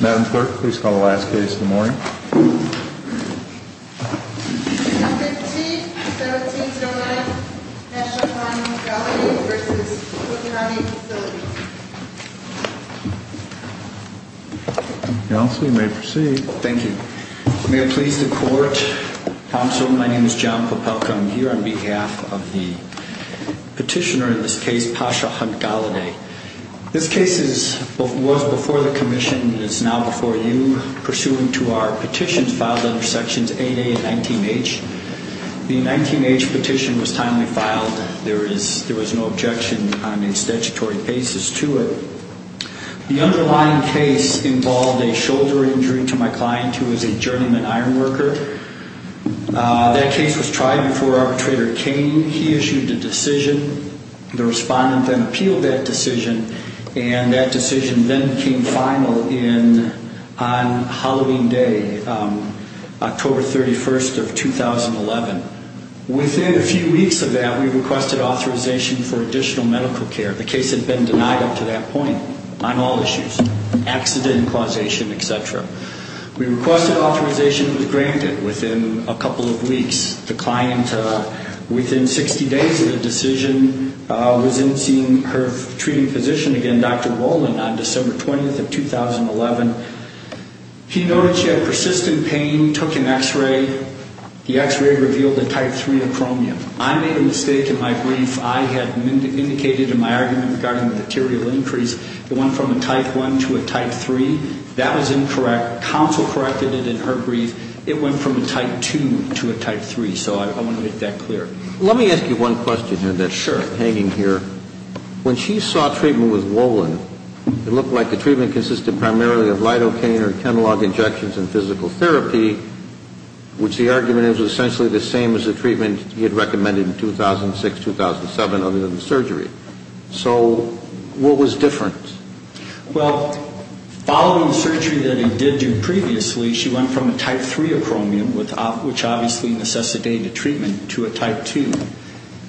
Madam Clerk, please call the last case in the morning. 15-1709, Pasha Hunt-Golliday v. Cook County Facilities Counsel, you may proceed. Thank you. May it please the Court, Counsel, my name is John Popelka. I'm here on behalf of the petitioner in this case, Pasha Hunt-Golliday. This case was before the Commission and is now before you. Pursuant to our petitions filed under Sections 8A and 19H, the 19H petition was timely filed. There was no objection on any statutory basis to it. The underlying case involved a shoulder injury to my client who was a journeyman ironworker. That case was tried before arbitrator came. He issued a decision. The respondent then appealed that decision, and that decision then came final on Halloween Day, October 31st of 2011. Within a few weeks of that, we requested authorization for additional medical care. The case had been denied up to that point on all issues, accident, causation, et cetera. We requested authorization. It was granted within a couple of weeks. The client, within 60 days of the decision, was in seeing her treating physician again, Dr. Rowland, on December 20th of 2011. He noted she had persistent pain, took an X-ray. The X-ray revealed a type 3 acromion. I made a mistake in my brief. I had indicated in my argument regarding the material increase. It went from a type 1 to a type 3. That was incorrect. Counsel corrected it in her brief. It went from a type 2 to a type 3, so I want to make that clear. Let me ask you one question here that's hanging here. Sure. When she saw treatment with Rowland, it looked like the treatment consisted primarily of lidocaine or Kenlog injections and physical therapy, which the argument is was essentially the same as the treatment he had recommended in 2006, 2007, other than surgery. So what was different? Well, following the surgery that he did do previously, she went from a type 3 acromion, which obviously necessitated a treatment, to a type 2.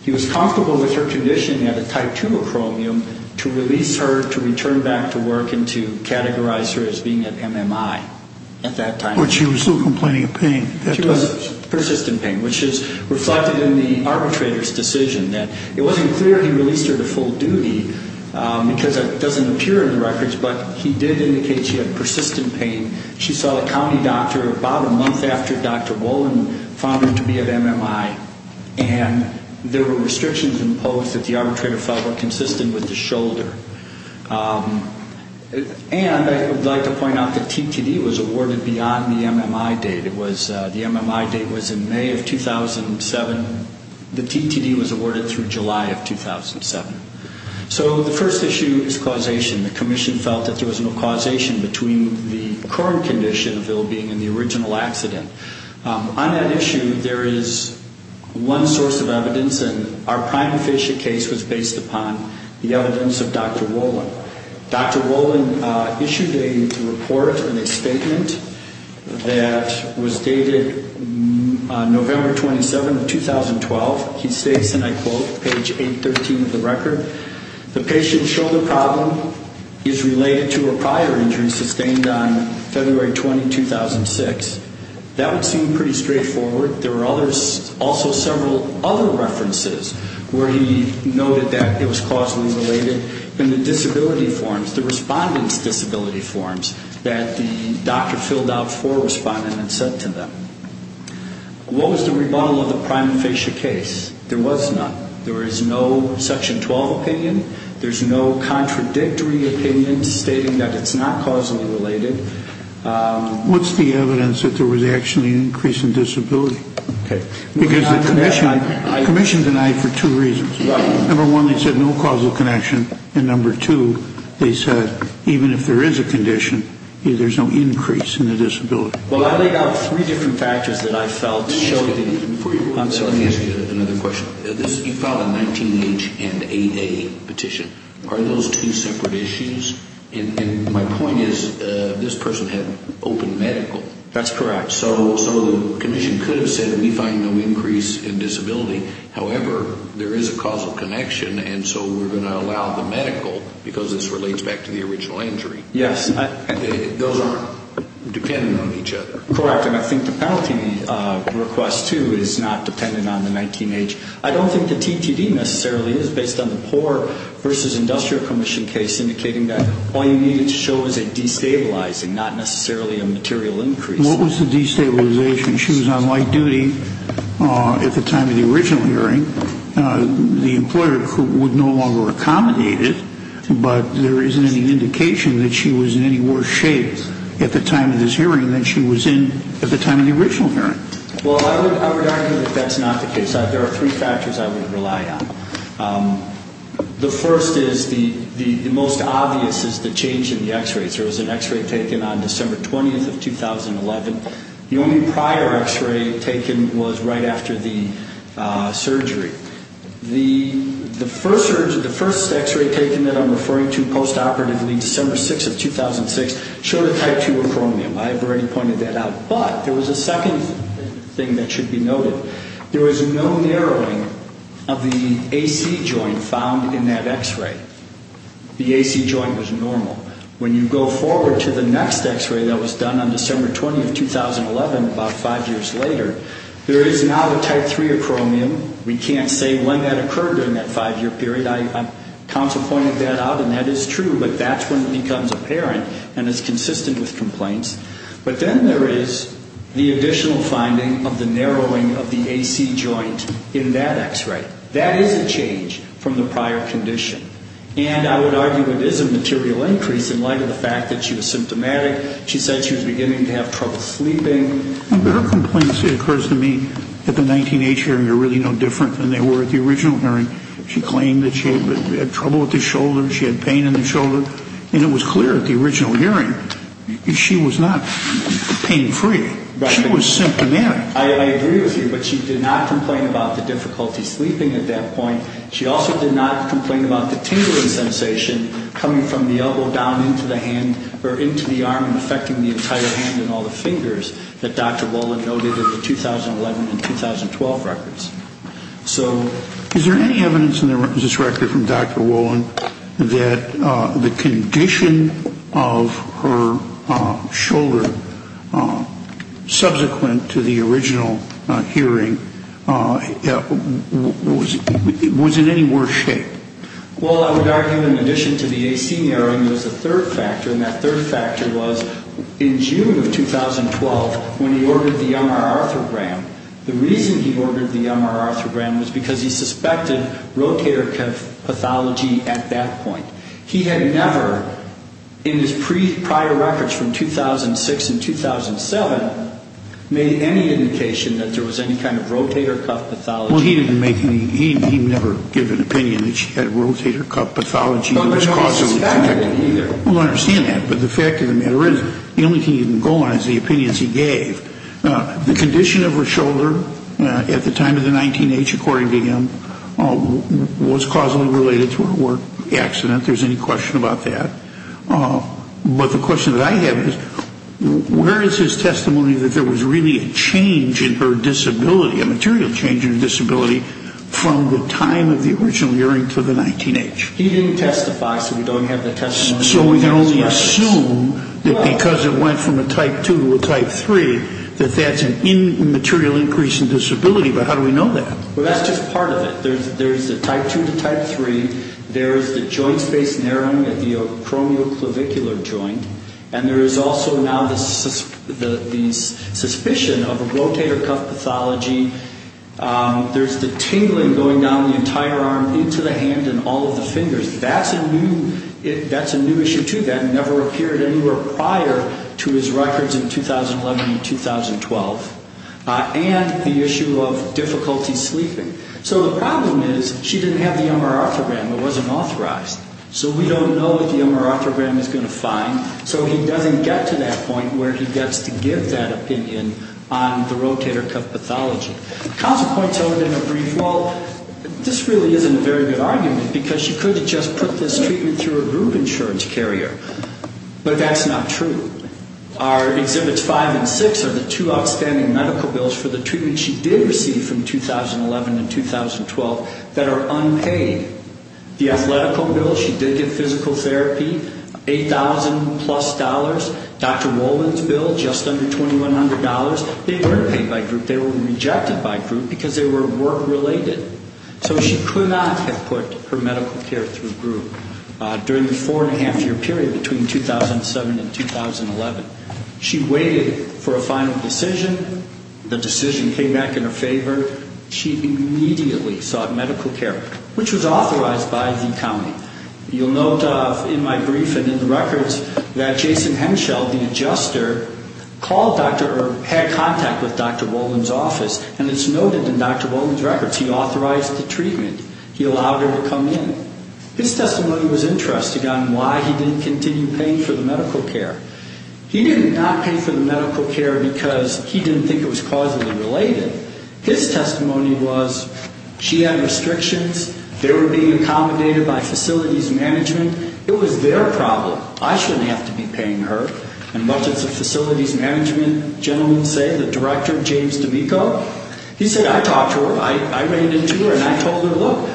He was comfortable with her condition at a type 2 acromion to release her to return back to work and to categorize her as being at MMI at that time. But she was still complaining of pain at that time. She was in persistent pain, which is reflected in the arbitrator's decision. It wasn't clear he released her to full duty because that doesn't appear in the records, but he did indicate she had persistent pain. She saw a county doctor about a month after Dr. Rowland found her to be at MMI, and there were restrictions imposed that the arbitrator felt were consistent with the shoulder. And I would like to point out the TTD was awarded beyond the MMI date. The MMI date was in May of 2007. The TTD was awarded through July of 2007. So the first issue is causation. The commission felt that there was no causation between the current condition of ill-being and the original accident. On that issue, there is one source of evidence, and our prime official case was based upon the evidence of Dr. Rowland. Dr. Rowland issued a report and a statement that was dated November 27 of 2012. He states, and I quote, page 813 of the record, the patient's shoulder problem is related to a prior injury sustained on February 20, 2006. That would seem pretty straightforward. There were also several other references where he noted that it was causally related. And the disability forms, the respondent's disability forms that the doctor filled out for a respondent and sent to them. What was the rebuttal of the prime official case? There was none. There is no Section 12 opinion. There's no contradictory opinion stating that it's not causally related. What's the evidence that there was actually an increase in disability? Okay. Because the commission denied for two reasons. Number one, they said no causal connection. And number two, they said even if there is a condition, there's no increase in the disability. Well, I laid out three different factors that I felt showed it. Let me ask you another question. You filed a 19-H and 8-A petition. Are those two separate issues? And my point is this person had open medical. That's correct. So the commission could have said we find no increase in disability. However, there is a causal connection, and so we're going to allow the medical because this relates back to the original injury. Yes. Those aren't dependent on each other. Correct. And I think the penalty request, too, is not dependent on the 19-H. I don't think the TTD necessarily is based on the poor versus industrial commission case, indicating that all you needed to show was a destabilizing, not necessarily a material increase. What was the destabilization? She was on light duty at the time of the original hearing. The employer would no longer accommodate it, but there isn't any indication that she was in any worse shape at the time of this hearing than she was in at the time of the original hearing. Well, I would argue that that's not the case. There are three factors I would rely on. The first is the most obvious is the change in the X-rays. There was an X-ray taken on December 20th of 2011. The only prior X-ray taken was right after the surgery. The first X-ray taken that I'm referring to post-operatively, December 6th of 2006, showed a type 2 acromion. I've already pointed that out. But there was a second thing that should be noted. There was no narrowing of the AC joint found in that X-ray. The AC joint was normal. When you go forward to the next X-ray that was done on December 20th, 2011, about five years later, there is now a type 3 acromion. We can't say when that occurred during that five-year period. I counsel pointed that out, and that is true. But that's when it becomes apparent and is consistent with complaints. But then there is the additional finding of the narrowing of the AC joint in that X-ray. That is a change from the prior condition. And I would argue it is a material increase in light of the fact that she was symptomatic. She said she was beginning to have trouble sleeping. Her complaints, it occurs to me, at the 19-H hearing are really no different than they were at the original hearing. She claimed that she had trouble with the shoulder, she had pain in the shoulder. And it was clear at the original hearing she was not pain-free. She was symptomatic. I agree with you. But she did not complain about the difficulty sleeping at that point. She also did not complain about the tingling sensation coming from the elbow down into the hand or into the arm and affecting the entire hand and all the fingers that Dr. Wolin noted in the 2011 and 2012 records. So is there any evidence in this record from Dr. Wolin that the condition of her shoulder, subsequent to the original hearing, was in any worse shape? Well, I would argue in addition to the AC narrowing, there was a third factor. And that third factor was in June of 2012 when he ordered the MR arthrogram. The reason he ordered the MR arthrogram was because he suspected rotator pathology at that point. He had never, in his prior records from 2006 and 2007, made any indication that there was any kind of rotator cuff pathology. Well, he didn't make any. He never gave an opinion that she had rotator cuff pathology that was causally connected. But nobody suspected it either. Well, I understand that. But the fact of the matter is the only thing he didn't go on is the opinions he gave. The condition of her shoulder at the time of the 19-H, according to him, was causally related to a work accident. If there's any question about that. But the question that I have is where is his testimony that there was really a change in her disability, a material change in her disability, from the time of the original hearing to the 19-H? He didn't testify, so we don't have that testimony. So we can only assume that because it went from a type 2 to a type 3, that that's an immaterial increase in disability. But how do we know that? Well, that's just part of it. There's the type 2 to type 3. There's the joint space narrowing of the acromioclavicular joint. And there is also now the suspicion of a rotator cuff pathology. There's the tingling going down the entire arm into the hand and all of the fingers. That's a new issue, too, that never appeared anywhere prior to his records in 2011 and 2012. And the issue of difficulty sleeping. So the problem is she didn't have the MRR program. It wasn't authorized. So we don't know what the MRR program is going to find. So he doesn't get to that point where he gets to give that opinion on the rotator cuff pathology. Council points out in a brief, well, this really isn't a very good argument because she could have just put this treatment through a group insurance carrier. But that's not true. Our Exhibits 5 and 6 are the two outstanding medical bills for the treatment she did receive from 2011 and 2012 that are unpaid. The athletical bill, she did get physical therapy, $8,000-plus. Dr. Wolman's bill, just under $2,100. They were paid by group. They were rejected by group because they were work-related. So she could not have put her medical care through a group. During the four-and-a-half-year period between 2007 and 2011, she waited for a final decision. The decision came back in her favor. She immediately sought medical care, which was authorized by the county. You'll note in my brief and in the records that Jason Henschel, the adjuster, called Dr. Earp, had contact with Dr. Wolman's office, and it's noted in Dr. Wolman's records. He authorized the treatment. He allowed her to come in. His testimony was interesting on why he didn't continue paying for the medical care. He did not pay for the medical care because he didn't think it was causally related. His testimony was she had restrictions. They were being accommodated by facilities management. It was their problem. I shouldn't have to be paying her. And much as the facilities management gentlemen say, the director, James D'Amico, he said, I talked to her. I ran into her, and I told her, look,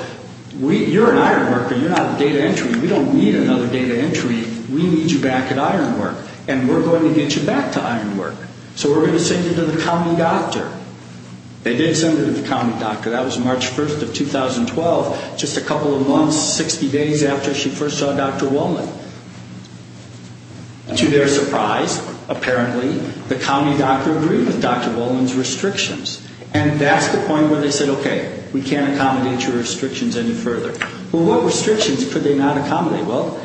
you're an iron worker. You're not a data entry. We don't need another data entry. We need you back at iron work, and we're going to get you back to iron work. So we're going to send you to the county doctor. They did send her to the county doctor. That was March 1st of 2012, just a couple of months, 60 days after she first saw Dr. Wolman. To their surprise, apparently, the county doctor agreed with Dr. Wolman's restrictions, and that's the point where they said, okay, we can't accommodate your restrictions any further. Well, what restrictions could they not accommodate? Well,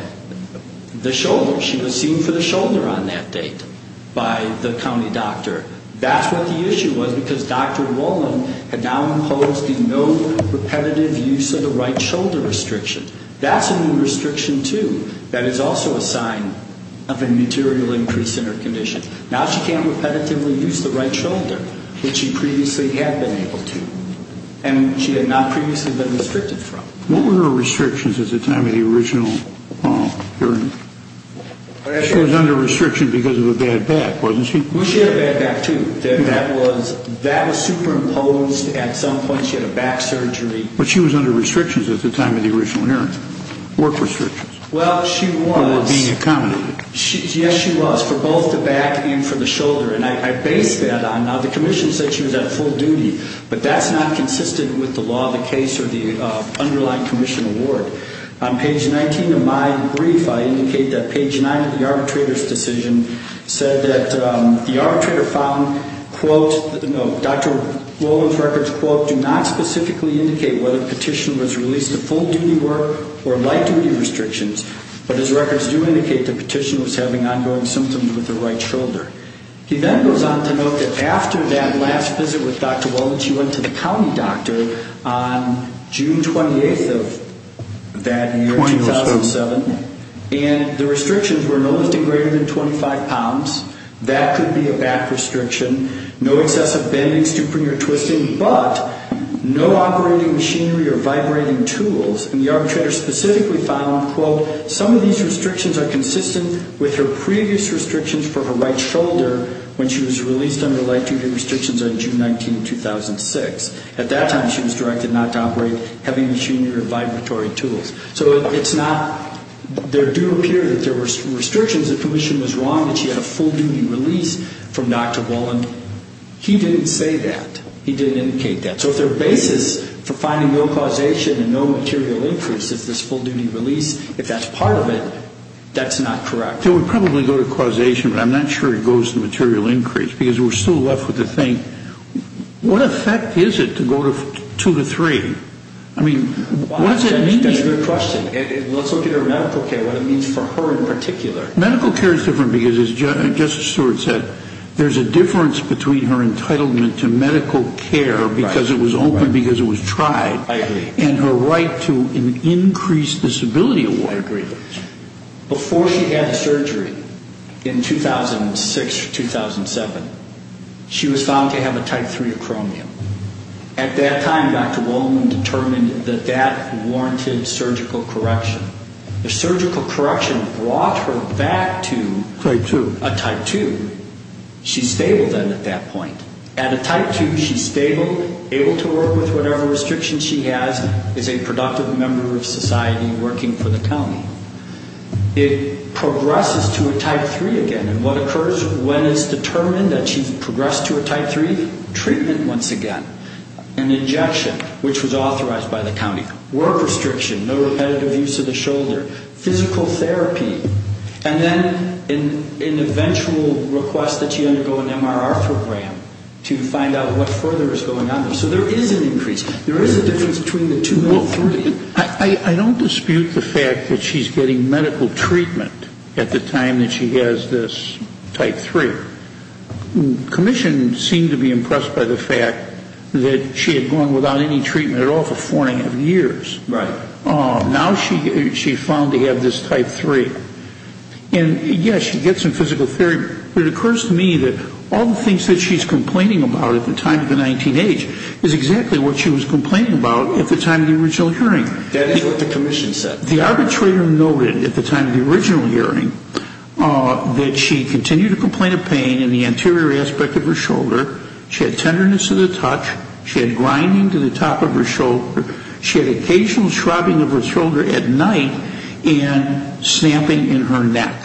the shoulder. She was seen for the shoulder on that date by the county doctor. That's what the issue was because Dr. Wolman had now imposed the no repetitive use of the right shoulder restriction. That's a new restriction, too. That is also a sign of a material increase in her condition. Now she can't repetitively use the right shoulder that she previously had been able to, and she had not previously been restricted from. What were her restrictions at the time of the original hearing? She was under restriction because of a bad back, wasn't she? She had a bad back, too. That was superimposed at some point. She had a back surgery. But she was under restrictions at the time of the original hearing, work restrictions. Well, she was. Or being accommodated. Yes, she was. For both the back and for the shoulder. And I base that on, now the commission said she was at full duty, but that's not consistent with the law of the case or the underlying commission award. On page 19 of my brief, I indicate that page 9 of the arbitrator's decision said that the arbitrator found, quote, no, Dr. Wolman's records, quote, do not specifically indicate whether the petitioner was released to full duty work or light duty restrictions, but his records do indicate the petitioner was having ongoing symptoms with the right shoulder. He then goes on to note that after that last visit with Dr. Wolman, she went to the county doctor on June 28th of that year, 2007, and the restrictions were no lifting greater than 25 pounds. That could be a back restriction. No excessive bending, stooping, or twisting, but no operating machinery or vibrating tools. And the arbitrator specifically found, quote, some of these restrictions are consistent with her previous restrictions for her right shoulder when she was released under light duty restrictions on June 19th, 2006. At that time, she was directed not to operate heavy machinery or vibratory tools. So it's not, there do appear that there were restrictions. The commission was wrong that she had a full duty release from Dr. Wolman. He didn't say that. He didn't indicate that. So if their basis for finding no causation and no material increase is this full duty release, if that's part of it, that's not correct. It would probably go to causation, but I'm not sure it goes to material increase because we're still left with the thing, what effect is it to go to two to three? I mean, what does it mean? That's a good question. Let's look at her medical care, what it means for her in particular. Medical care is different because, as Justice Stewart said, there's a difference between her entitlement to medical care because it was open, because it was tried, and her right to an increased disability award. Before she had the surgery in 2006 or 2007, she was found to have a type 3 acromion. At that time, Dr. Wolman determined that that warranted surgical correction. The surgical correction brought her back to a type 2. She's stable then at that point. At a type 2, she's stable, able to work with whatever restrictions she has, is a productive member of society working for the county. It progresses to a type 3 again. And what occurs when it's determined that she's progressed to a type 3? Treatment once again. An injection, which was authorized by the county. Work restriction. No repetitive use of the shoulder. Physical therapy. And then an eventual request that she undergo an MRR program to find out what further is going on. So there is an increase. There is a difference between the two and the three. I don't dispute the fact that she's getting medical treatment at the time that she has this type 3. The commission seemed to be impressed by the fact that she had gone without any treatment at all for four and a half years. Right. Now she's found to have this type 3. And, yes, she gets some physical therapy. It occurs to me that all the things that she's complaining about at the time of the 19-H is exactly what she was complaining about at the time of the original hearing. That is what the commission said. The arbitrator noted at the time of the original hearing that she continued to complain of pain in the anterior aspect of her shoulder. She had tenderness to the touch. She had grinding to the top of her shoulder. She had occasional shrubbing of her shoulder at night and stamping in her neck.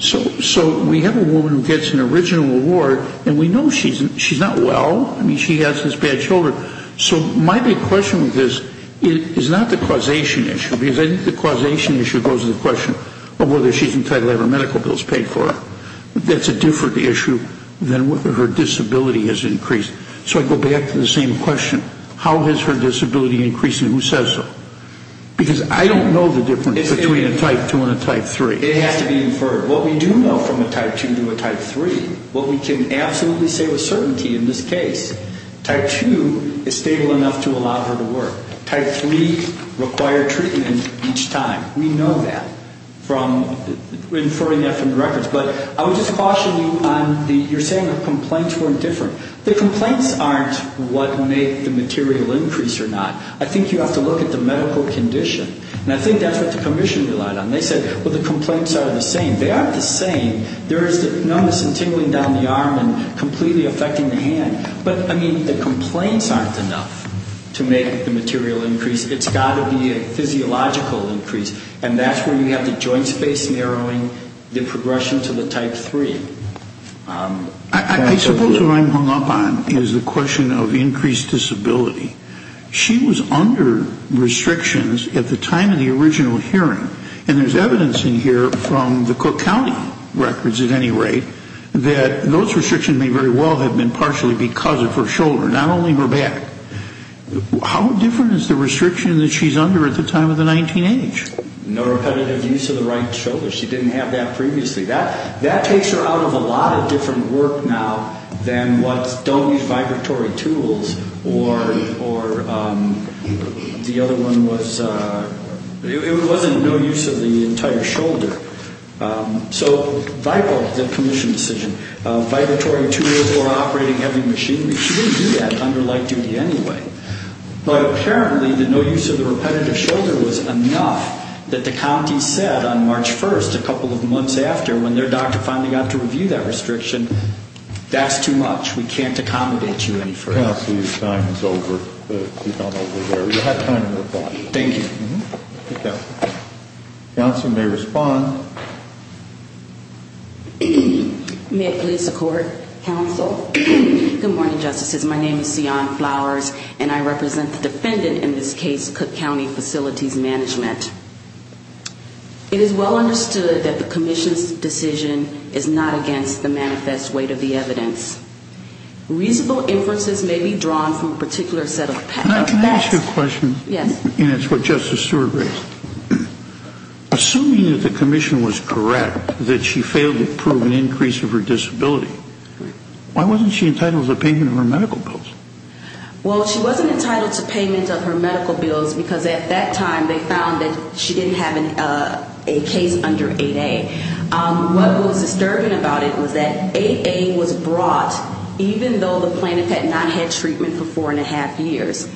So we have a woman who gets an original award, and we know she's not well. I mean, she has this bad shoulder. So my big question with this is not the causation issue, because I think the causation issue goes to the question of whether she's entitled to have her medical bills paid for. That's a different issue than whether her disability has increased. So I go back to the same question. How has her disability increased, and who says so? Because I don't know the difference between a type 2 and a type 3. It has to be inferred. What we do know from a type 2 to a type 3, what we can absolutely say with certainty in this case, type 2 is stable enough to allow her to work. Type 3 required treatment each time. We know that from inferring that from the records. But I would just caution you on the you're saying the complaints weren't different. The complaints aren't what made the material increase or not. I think you have to look at the medical condition, and I think that's what the commission relied on. They said, well, the complaints are the same. They aren't the same. There is the numbness and tingling down the arm and completely affecting the hand. But, I mean, the complaints aren't enough to make the material increase. It's got to be a physiological increase, and that's where you have the joint space narrowing, the progression to the type 3. I suppose what I'm hung up on is the question of increased disability. She was under restrictions at the time of the original hearing, and there's evidence in here from the Cook County records at any rate that those restrictions may very well have been partially because of her shoulder, not only her back. How different is the restriction that she's under at the time of the 19H? No repetitive use of the right shoulder. She didn't have that previously. That takes her out of a lot of different work now than what's don't use vibratory tools or the other one was it wasn't no use of the entire shoulder. So, the commission decision, vibratory tools or operating heavy machinery, she didn't do that under light duty anyway. But apparently the no use of the repetitive shoulder was enough that the county said on March 1st, a couple of months after when their doctor finally got to review that restriction, that's too much, we can't accommodate you any further. Counsel, your time is over. You've gone over there. You had time to reply. Thank you. Okay. Counsel may respond. May it please the court, counsel. Good morning, justices. My name is Sian Flowers, and I represent the defendant in this case, Cook County Facilities Management. It is well understood that the commission's decision is not against the manifest weight of the evidence. Reasonable inferences may be drawn from a particular set of facts. Can I ask you a question? Yes. And it's what Justice Stewart raised. Assuming that the commission was correct that she failed to prove an increase of her disability, why wasn't she entitled to payment of her medical bills? Well, she wasn't entitled to payment of her medical bills because at that time they found that she didn't have a case under 8A. What was disturbing about it was that 8A was brought even though the plaintiff had not had treatment for four-and-a-half years.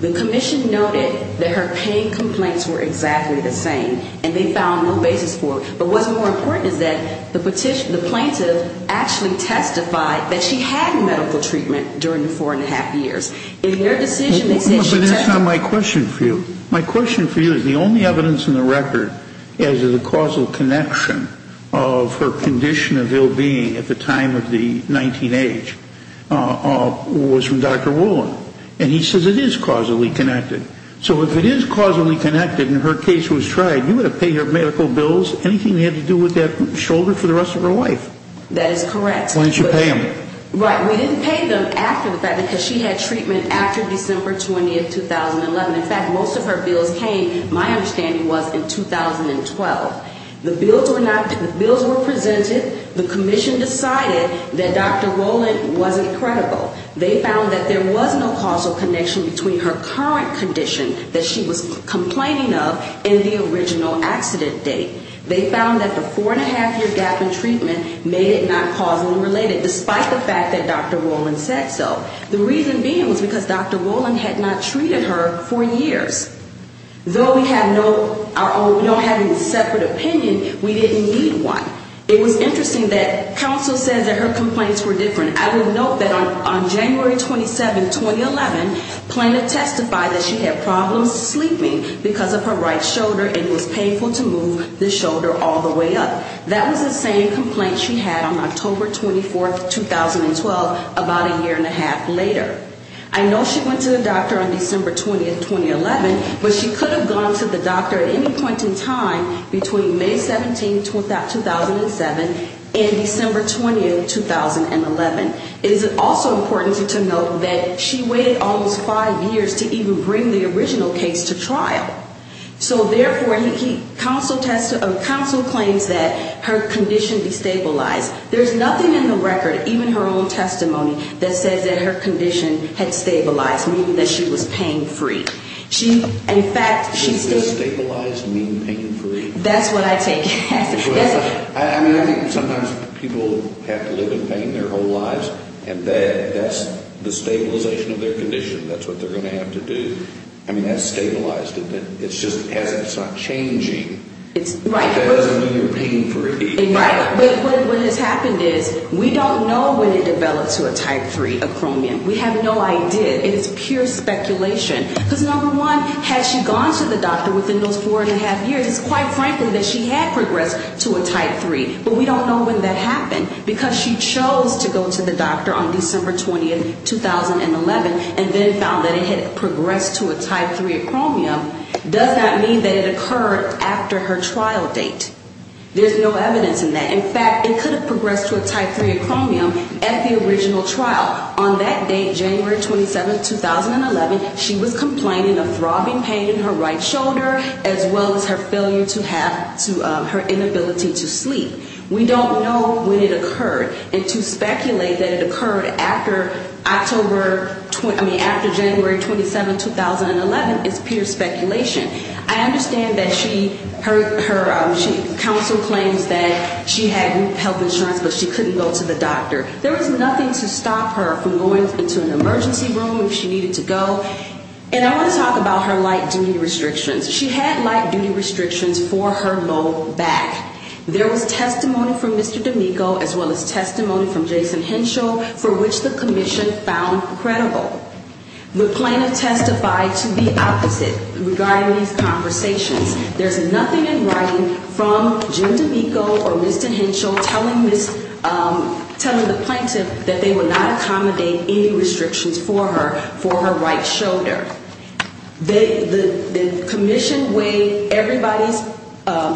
The commission noted that her pain complaints were exactly the same, and they found no basis for it. But what's more important is that the plaintiff actually testified that she had medical treatment during the four-and-a-half years. In their decision, they said she testified. But that's not my question for you. My question for you is the only evidence in the record as to the causal connection of her condition of ill-being at the time of the 19H was from Dr. Wolin. And he says it is causally connected. So if it is causally connected and her case was tried, you would have paid her medical bills, anything they had to do with that shoulder, for the rest of her life. That is correct. Why didn't you pay them? Right. We didn't pay them after the fact because she had treatment after December 20, 2011. In fact, most of her bills came, my understanding was, in 2012. The bills were presented. The commission decided that Dr. Wolin wasn't credible. They found that there was no causal connection between her current condition that she was complaining of and the original accident date. They found that the four-and-a-half-year gap in treatment made it not causally related, despite the fact that Dr. Wolin said so. The reason being was because Dr. Wolin had not treated her for years. Though we have no separate opinion, we didn't need one. It was interesting that counsel said that her complaints were different. I would note that on January 27, 2011, Plano testified that she had problems sleeping because of her right shoulder and it was painful to move the shoulder all the way up. That was the same complaint she had on October 24, 2012, about a year-and-a-half later. I know she went to the doctor on December 20, 2011, but she could have gone to the doctor at any point in time between May 17, 2007, and December 20, 2011. It is also important to note that she waited almost five years to even bring the original case to trial. So, therefore, counsel claims that her condition destabilized. There's nothing in the record, even her own testimony, that says that her condition had stabilized, meaning that she was pain-free. In fact, she... Does destabilized mean pain-free? That's what I take it as. I mean, I think sometimes people have to live in pain their whole lives, and that's the stabilization of their condition. That's what they're going to have to do. I mean, that's stabilized. It's just as if it's not changing. Right. But that doesn't mean you're pain-free. Right. But what has happened is we don't know when it developed to a type 3, a chromium. We have no idea. It's pure speculation. Because, number one, had she gone to the doctor within those four-and-a-half years, it's quite frankly that she had progressed to a type 3. But we don't know when that happened, because she chose to go to the doctor on December 20, 2011, and then found that it had progressed to a type 3 of chromium does not mean that it occurred after her trial date. There's no evidence in that. In fact, it could have progressed to a type 3 of chromium at the original trial. On that date, January 27, 2011, she was complaining of throbbing pain in her right shoulder, as well as her failure to have to her inability to sleep. We don't know when it occurred, and to speculate that it occurred after October, I mean, after January 27, 2011, is pure speculation. I understand that she, her counsel claims that she had health insurance, but she couldn't go to the doctor. There was nothing to stop her from going into an emergency room if she needed to go. And I want to talk about her light-duty restrictions. She had light-duty restrictions for her low back. There was testimony from Mr. D'Amico, as well as testimony from Jason Henshaw, for which the commission found credible. The plaintiff testified to the opposite regarding these conversations. There's nothing in writing from Jim D'Amico or Mr. Henshaw telling the plaintiff that they would not accommodate any restrictions for her, for her right shoulder. The commission weighed everybody's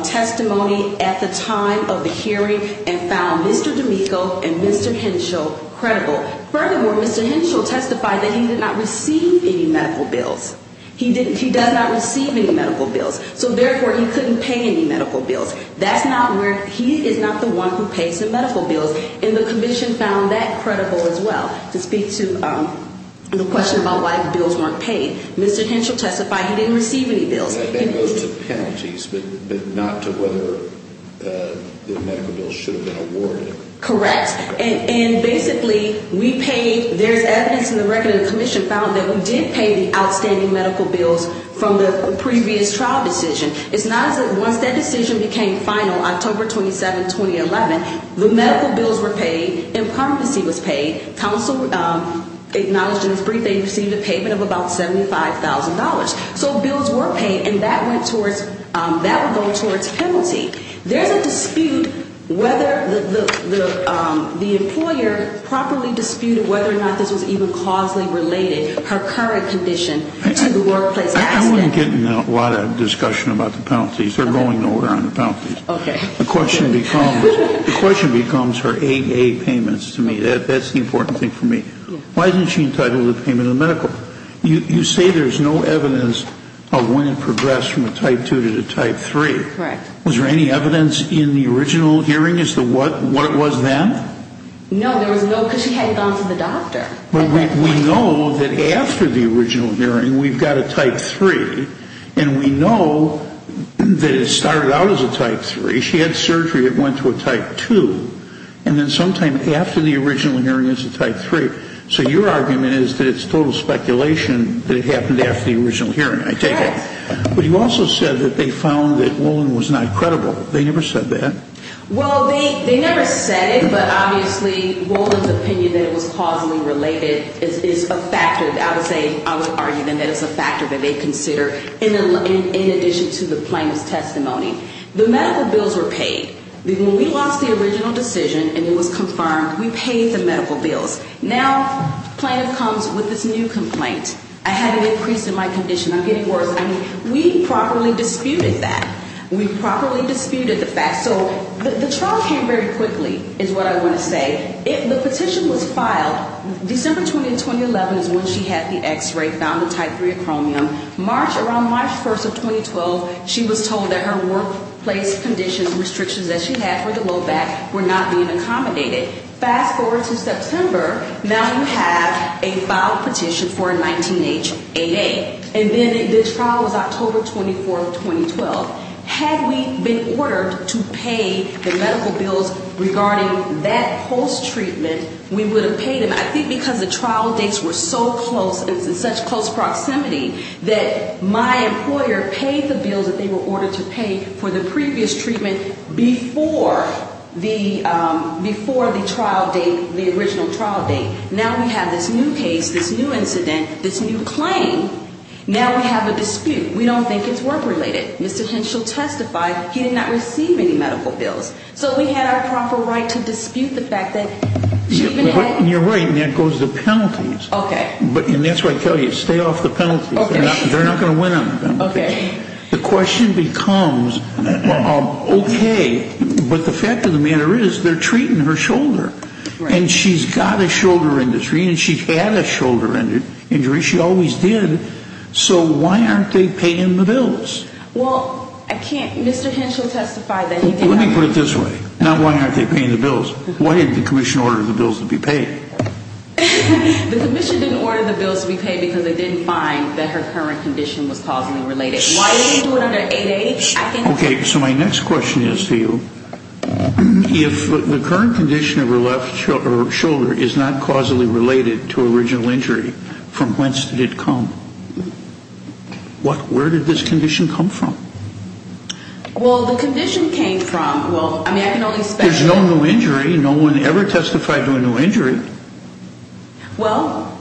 testimony at the time of the hearing and found Mr. D'Amico and Mr. Henshaw credible. Furthermore, Mr. Henshaw testified that he did not receive any medical bills. He does not receive any medical bills, so therefore he couldn't pay any medical bills. That's not where, he is not the one who pays the medical bills, and the commission found that credible as well. To speak to the question about why the bills weren't paid, Mr. Henshaw testified he didn't receive any bills. And those are penalties, but not to whether the medical bills should have been awarded. Correct. And basically, we paid, there's evidence in the record that the commission found that we did pay the outstanding medical bills from the previous trial decision. It's not as if once that decision became final, October 27, 2011, the medical bills were paid, and permanency was paid. Counsel acknowledged in his brief that he received a payment of about $75,000. So bills were paid, and that went towards, that would go towards penalty. There's a dispute whether the employer properly disputed whether or not this was even causally related, her current condition, to the workplace accident. I wasn't getting a lot of discussion about the penalties. They're going nowhere on the penalties. The question becomes her AA payments to me. That's the important thing for me. Why isn't she entitled to payment of medical? You say there's no evidence of when it progressed from a type 2 to a type 3. Correct. Was there any evidence in the original hearing as to what it was then? No, there was no, because she hadn't gone to the doctor. But we know that after the original hearing, we've got a type 3, and we know that it started out as a type 3. She had surgery that went to a type 2, and then sometime after the original hearing, it's a type 3. So your argument is that it's total speculation that it happened after the original hearing, I take it. But you also said that they found that Wolin was not credible. They never said that. Well, they never said it, but obviously Wolin's opinion that it was causally related is a factor. I would argue that it's a factor that they consider in addition to the plaintiff's testimony. The medical bills were paid. When we lost the original decision and it was confirmed, we paid the medical bills. Now the plaintiff comes with this new complaint. I had an increase in my condition. I'm getting worse. We properly disputed that. We properly disputed the fact. So the trial came very quickly is what I want to say. The petition was filed. December 20, 2011 is when she had the x-ray, found the type 3 acromion. Around March 1 of 2012, she was told that her workplace conditions, restrictions that she had for the low back were not being accommodated. Fast forward to September, now you have a filed petition for a 19HAA. And then the trial was October 24, 2012. Had we been ordered to pay the medical bills regarding that post-treatment, we would have paid them. I think because the trial dates were so close and it's in such close proximity that my employer paid the bills that they were ordered to pay for the previous treatment before the trial date, the original trial date. Now we have this new case, this new incident, this new claim. Now we have a dispute. We don't think it's work-related. Mr. Henschel testified he did not receive any medical bills. So we had our proper right to dispute the fact that she even had... You're right, and that goes to penalties. And that's why I tell you, stay off the penalties. They're not going to win on the penalties. The question becomes, okay, but the fact of the matter is they're treating her shoulder. And she's got a shoulder injury, and she had a shoulder injury. She always did. So why aren't they paying the bills? Well, I can't... Mr. Henschel testified that he did not... Let me put it this way. Not why aren't they paying the bills. Why didn't the commission order the bills to be paid? The commission didn't order the bills to be paid because they didn't find that her current condition was causally related. Why didn't they do it under 880? I can't... Okay, so my next question is to you. If the current condition of her left shoulder is not causally related to original injury, from whence did it come? Where did this condition come from? Well, the condition came from, well, I mean, I can only speculate... There's no new injury. No one ever testified to a new injury. Well,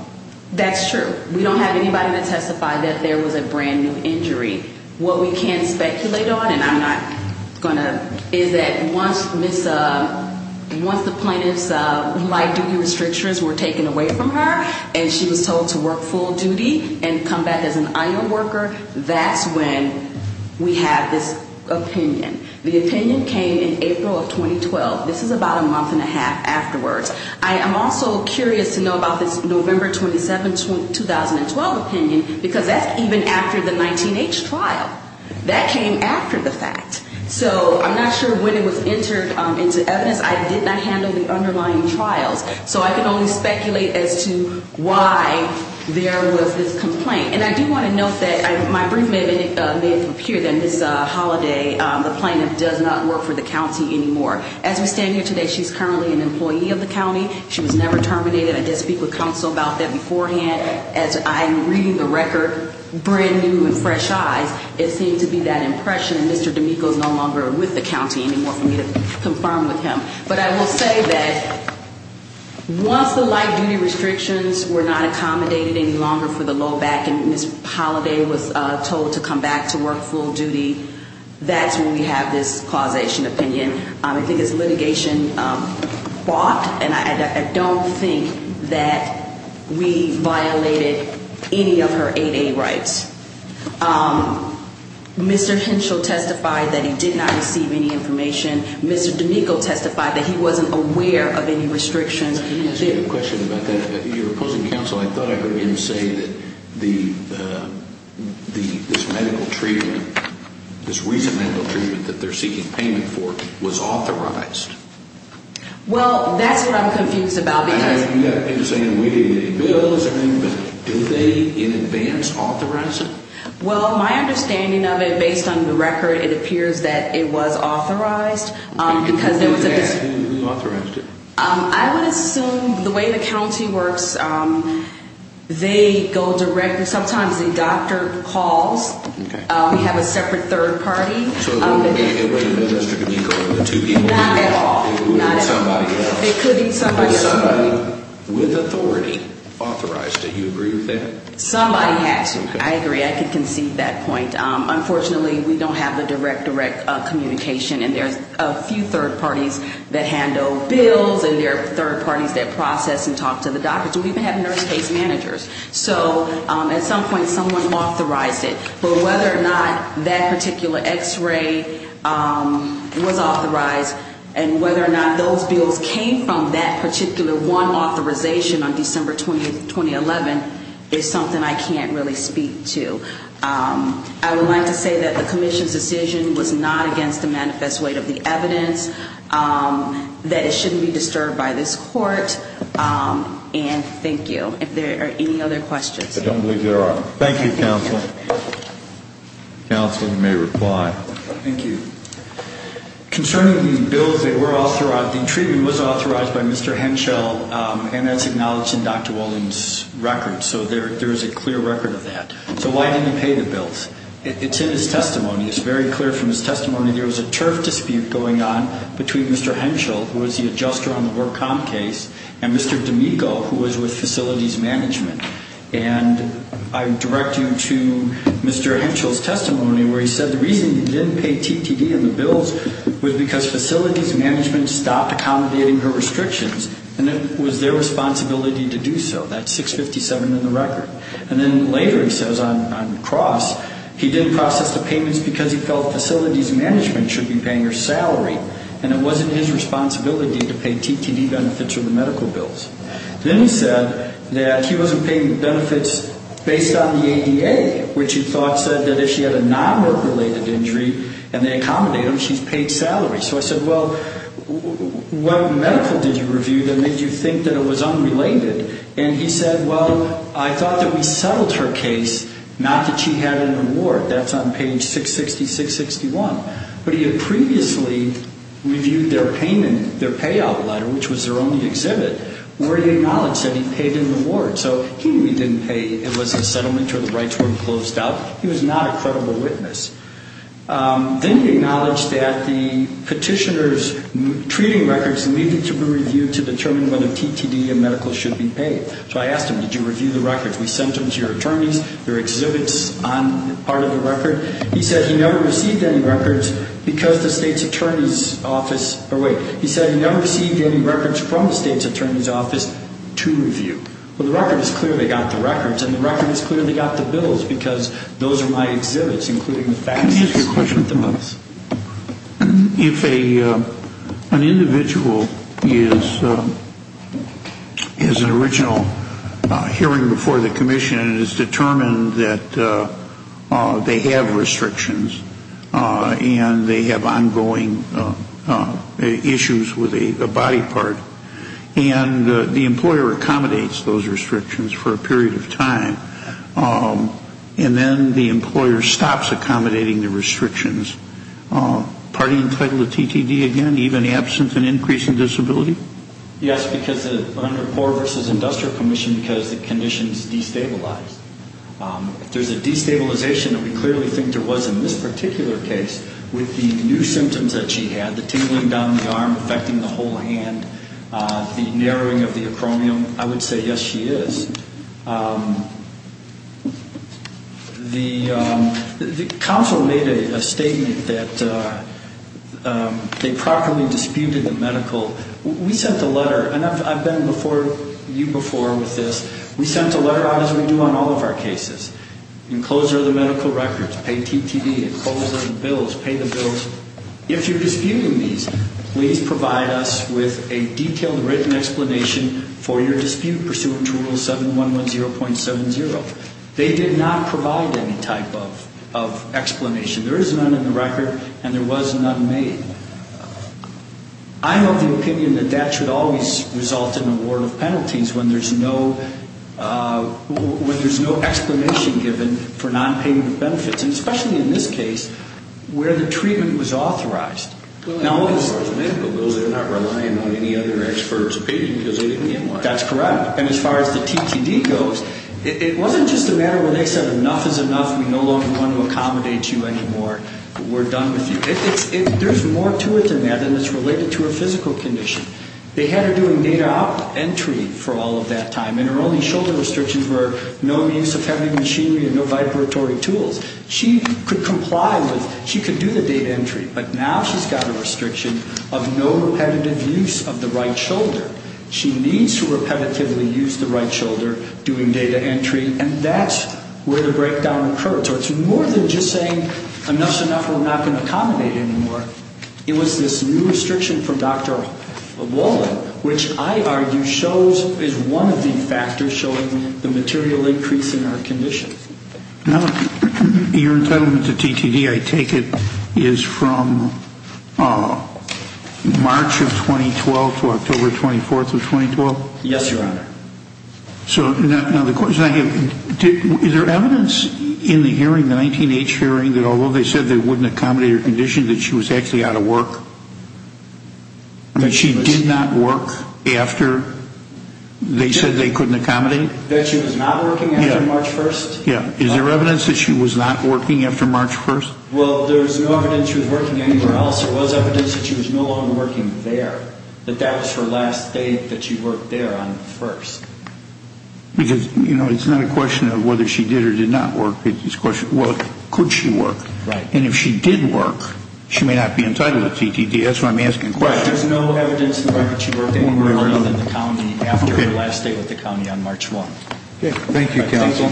that's true. We don't have anybody to testify that there was a brand-new injury. What we can speculate on, and I'm not going to... is that once the plaintiff's light duty restrictions were taken away from her, and she was told to work full duty and come back as an iron worker, that's when we have this opinion. The opinion came in April of 2012. This is about a month and a half afterwards. I am also curious to know about this November 27, 2012 opinion, because that's even after the 19-H trial. That came after the fact. So I'm not sure when it was entered into evidence. I did not handle the underlying trials, so I can only speculate as to why there was this complaint. And I do want to note that my brief may have appeared that Ms. Holliday, the plaintiff, does not work for the county anymore. As we stand here today, she's currently an employee of the county. She was never terminated. I did speak with counsel about that beforehand. As I'm reading the record, brand-new and fresh eyes, it seemed to be that impression that Mr. D'Amico is no longer with the county anymore for me to confirm with him. But I will say that once the light duty restrictions were not accommodated any longer for the low back and Ms. Holliday was told to come back to work full duty, that's when we have this causation opinion. I think it's litigation bought, and I don't think that we violated any of her 8A rights. Mr. Henschel testified that he did not receive any information. Mr. D'Amico testified that he wasn't aware of any restrictions. Can you ask me a question about that? You're opposing counsel. I thought I heard him say that this medical treatment, this recent medical treatment that they're seeking payment for, was authorized. Well, that's what I'm confused about. You're saying we gave you any bills or anything, but did they in advance authorize it? Well, my understanding of it, based on the record, it appears that it was authorized. Who authorized it? I would assume the way the county works, they go directly, sometimes the doctor calls. We have a separate third party. So it wasn't Mr. D'Amico and the two people? Not at all. It could be somebody else. Somebody with authority authorized it. Do you agree with that? Somebody had to. I agree. I can concede that point. Unfortunately, we don't have the direct, direct communication. And there's a few third parties that handle bills, and there are third parties that process and talk to the doctors. We even have nurse case managers. So at some point someone authorized it. But whether or not that particular x-ray was authorized and whether or not those bills came from that particular one authorization on December 20, 2011, is something I can't really speak to. I would like to say that the commission's decision was not against the manifest weight of the evidence, that it shouldn't be disturbed by this court. And thank you. If there are any other questions. I don't believe there are. Thank you, counsel. Counsel, you may reply. Thank you. Concerning the bills that were authorized, the treatment was authorized by Mr. Henschel, and that's acknowledged in Dr. Walden's record. So there is a clear record of that. So why didn't he pay the bills? It's in his testimony. It's very clear from his testimony there was a turf dispute going on between Mr. Henschel, who was the adjuster on the work comp case, and Mr. D'Amico, who was with facilities management. And I'm directing to Mr. Henschel's testimony where he said the reason he didn't pay TTD on the bills was because facilities management stopped accommodating her restrictions, and it was their responsibility to do so. That's 657 in the record. And then later he says on cross, he didn't process the payments because he felt facilities management should be paying her salary, and it wasn't his responsibility to pay TTD benefits or the medical bills. Then he said that he wasn't paying benefits based on the ADA, which he thought said that if she had a non-work-related injury and they accommodate them, she's paid salary. So I said, well, what medical did you review that made you think that it was unrelated? And he said, well, I thought that we settled her case, not that she had an award. That's on page 66661. But he had previously reviewed their payment, their payout letter, which was their only exhibit, where he acknowledged that he paid an award. So he knew he didn't pay. It was a settlement or the rights weren't closed out. He was not a credible witness. Then he acknowledged that the petitioner's treating records needed to be reviewed to determine whether TTD and medical should be paid. So I asked him, did you review the records? We sent them to your attorneys. There are exhibits on part of the record. He said he never received any records because the state's attorney's office – or wait. He said he never received any records from the state's attorney's office to review. Well, the record is clear they got the records. And the record is clear they got the bills because those are my exhibits, including the faxes. Can I ask you a question, please? If an individual is an original hearing before the commission and it is determined that they have restrictions and they have ongoing issues with a body part and the employer accommodates those restrictions for a period of time and then the employer stops accommodating the restrictions, are they entitled to TTD again, even absent an increase in disability? Yes, because under the Poor v. Industrial Commission because the condition is destabilized. If there's a destabilization that we clearly think there was in this particular case with the new symptoms that she had, the tingling down the arm affecting the whole hand, the narrowing of the acromion, I would say yes, she is. The council made a statement that they properly disputed the medical. We sent a letter, and I've been before you before with this. We sent a letter as we do on all of our cases. Enclose all the medical records, pay TTD, enclose all the bills, pay the bills. If you're disputing these, please provide us with a detailed written explanation for your dispute pursuant to Rule 7110.70. They did not provide any type of explanation. There is none in the record and there was none made. I hold the opinion that that should always result in a ward of penalties when there's no explanation given for nonpayment of benefits, and especially in this case where the treatment was authorized. Those are not relying on any other expert's opinion because they didn't get one. That's correct. And as far as the TTD goes, it wasn't just a matter where they said enough is enough. We no longer want to accommodate you anymore. We're done with you. There's more to it than that and it's related to her physical condition. They had her doing data entry for all of that time, and her only shoulder restrictions were no use of heavy machinery and no vibratory tools. She could comply with, she could do the data entry, but now she's got a restriction of no repetitive use of the right shoulder. She needs to repetitively use the right shoulder doing data entry, and that's where the breakdown occurred. So it's more than just saying enough is enough and we're not going to accommodate anymore. It was this new restriction from Dr. Walden, which I argue shows is one of the factors showing the material increase in her condition. Now, your entitlement to TTD, I take it, is from March of 2012 to October 24th of 2012? Yes, Your Honor. So now the question I have, is there evidence in the hearing, the 19-H hearing, that although they said they wouldn't accommodate her condition, that she was actually out of work? That she did not work after they said they couldn't accommodate? That she was not working after March 1st? Yeah. Is there evidence that she was not working after March 1st? Well, there's no evidence she was working anywhere else. There was evidence that she was no longer working there, but that was her last day that she worked there on the 1st. Because, you know, it's not a question of whether she did or did not work. It's a question of, well, could she work? Right. And if she did work, she may not be entitled to TTD. That's why I'm asking questions. There's no evidence that she worked anywhere else in the county after her last day with the county on March 1st. Okay. Thank you, counsel.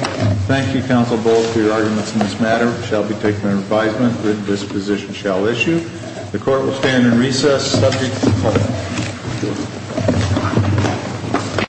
Thank you, counsel, both, for your arguments in this matter. It shall be taken under advisement that this position shall issue. The court will stand in recess subject to the court.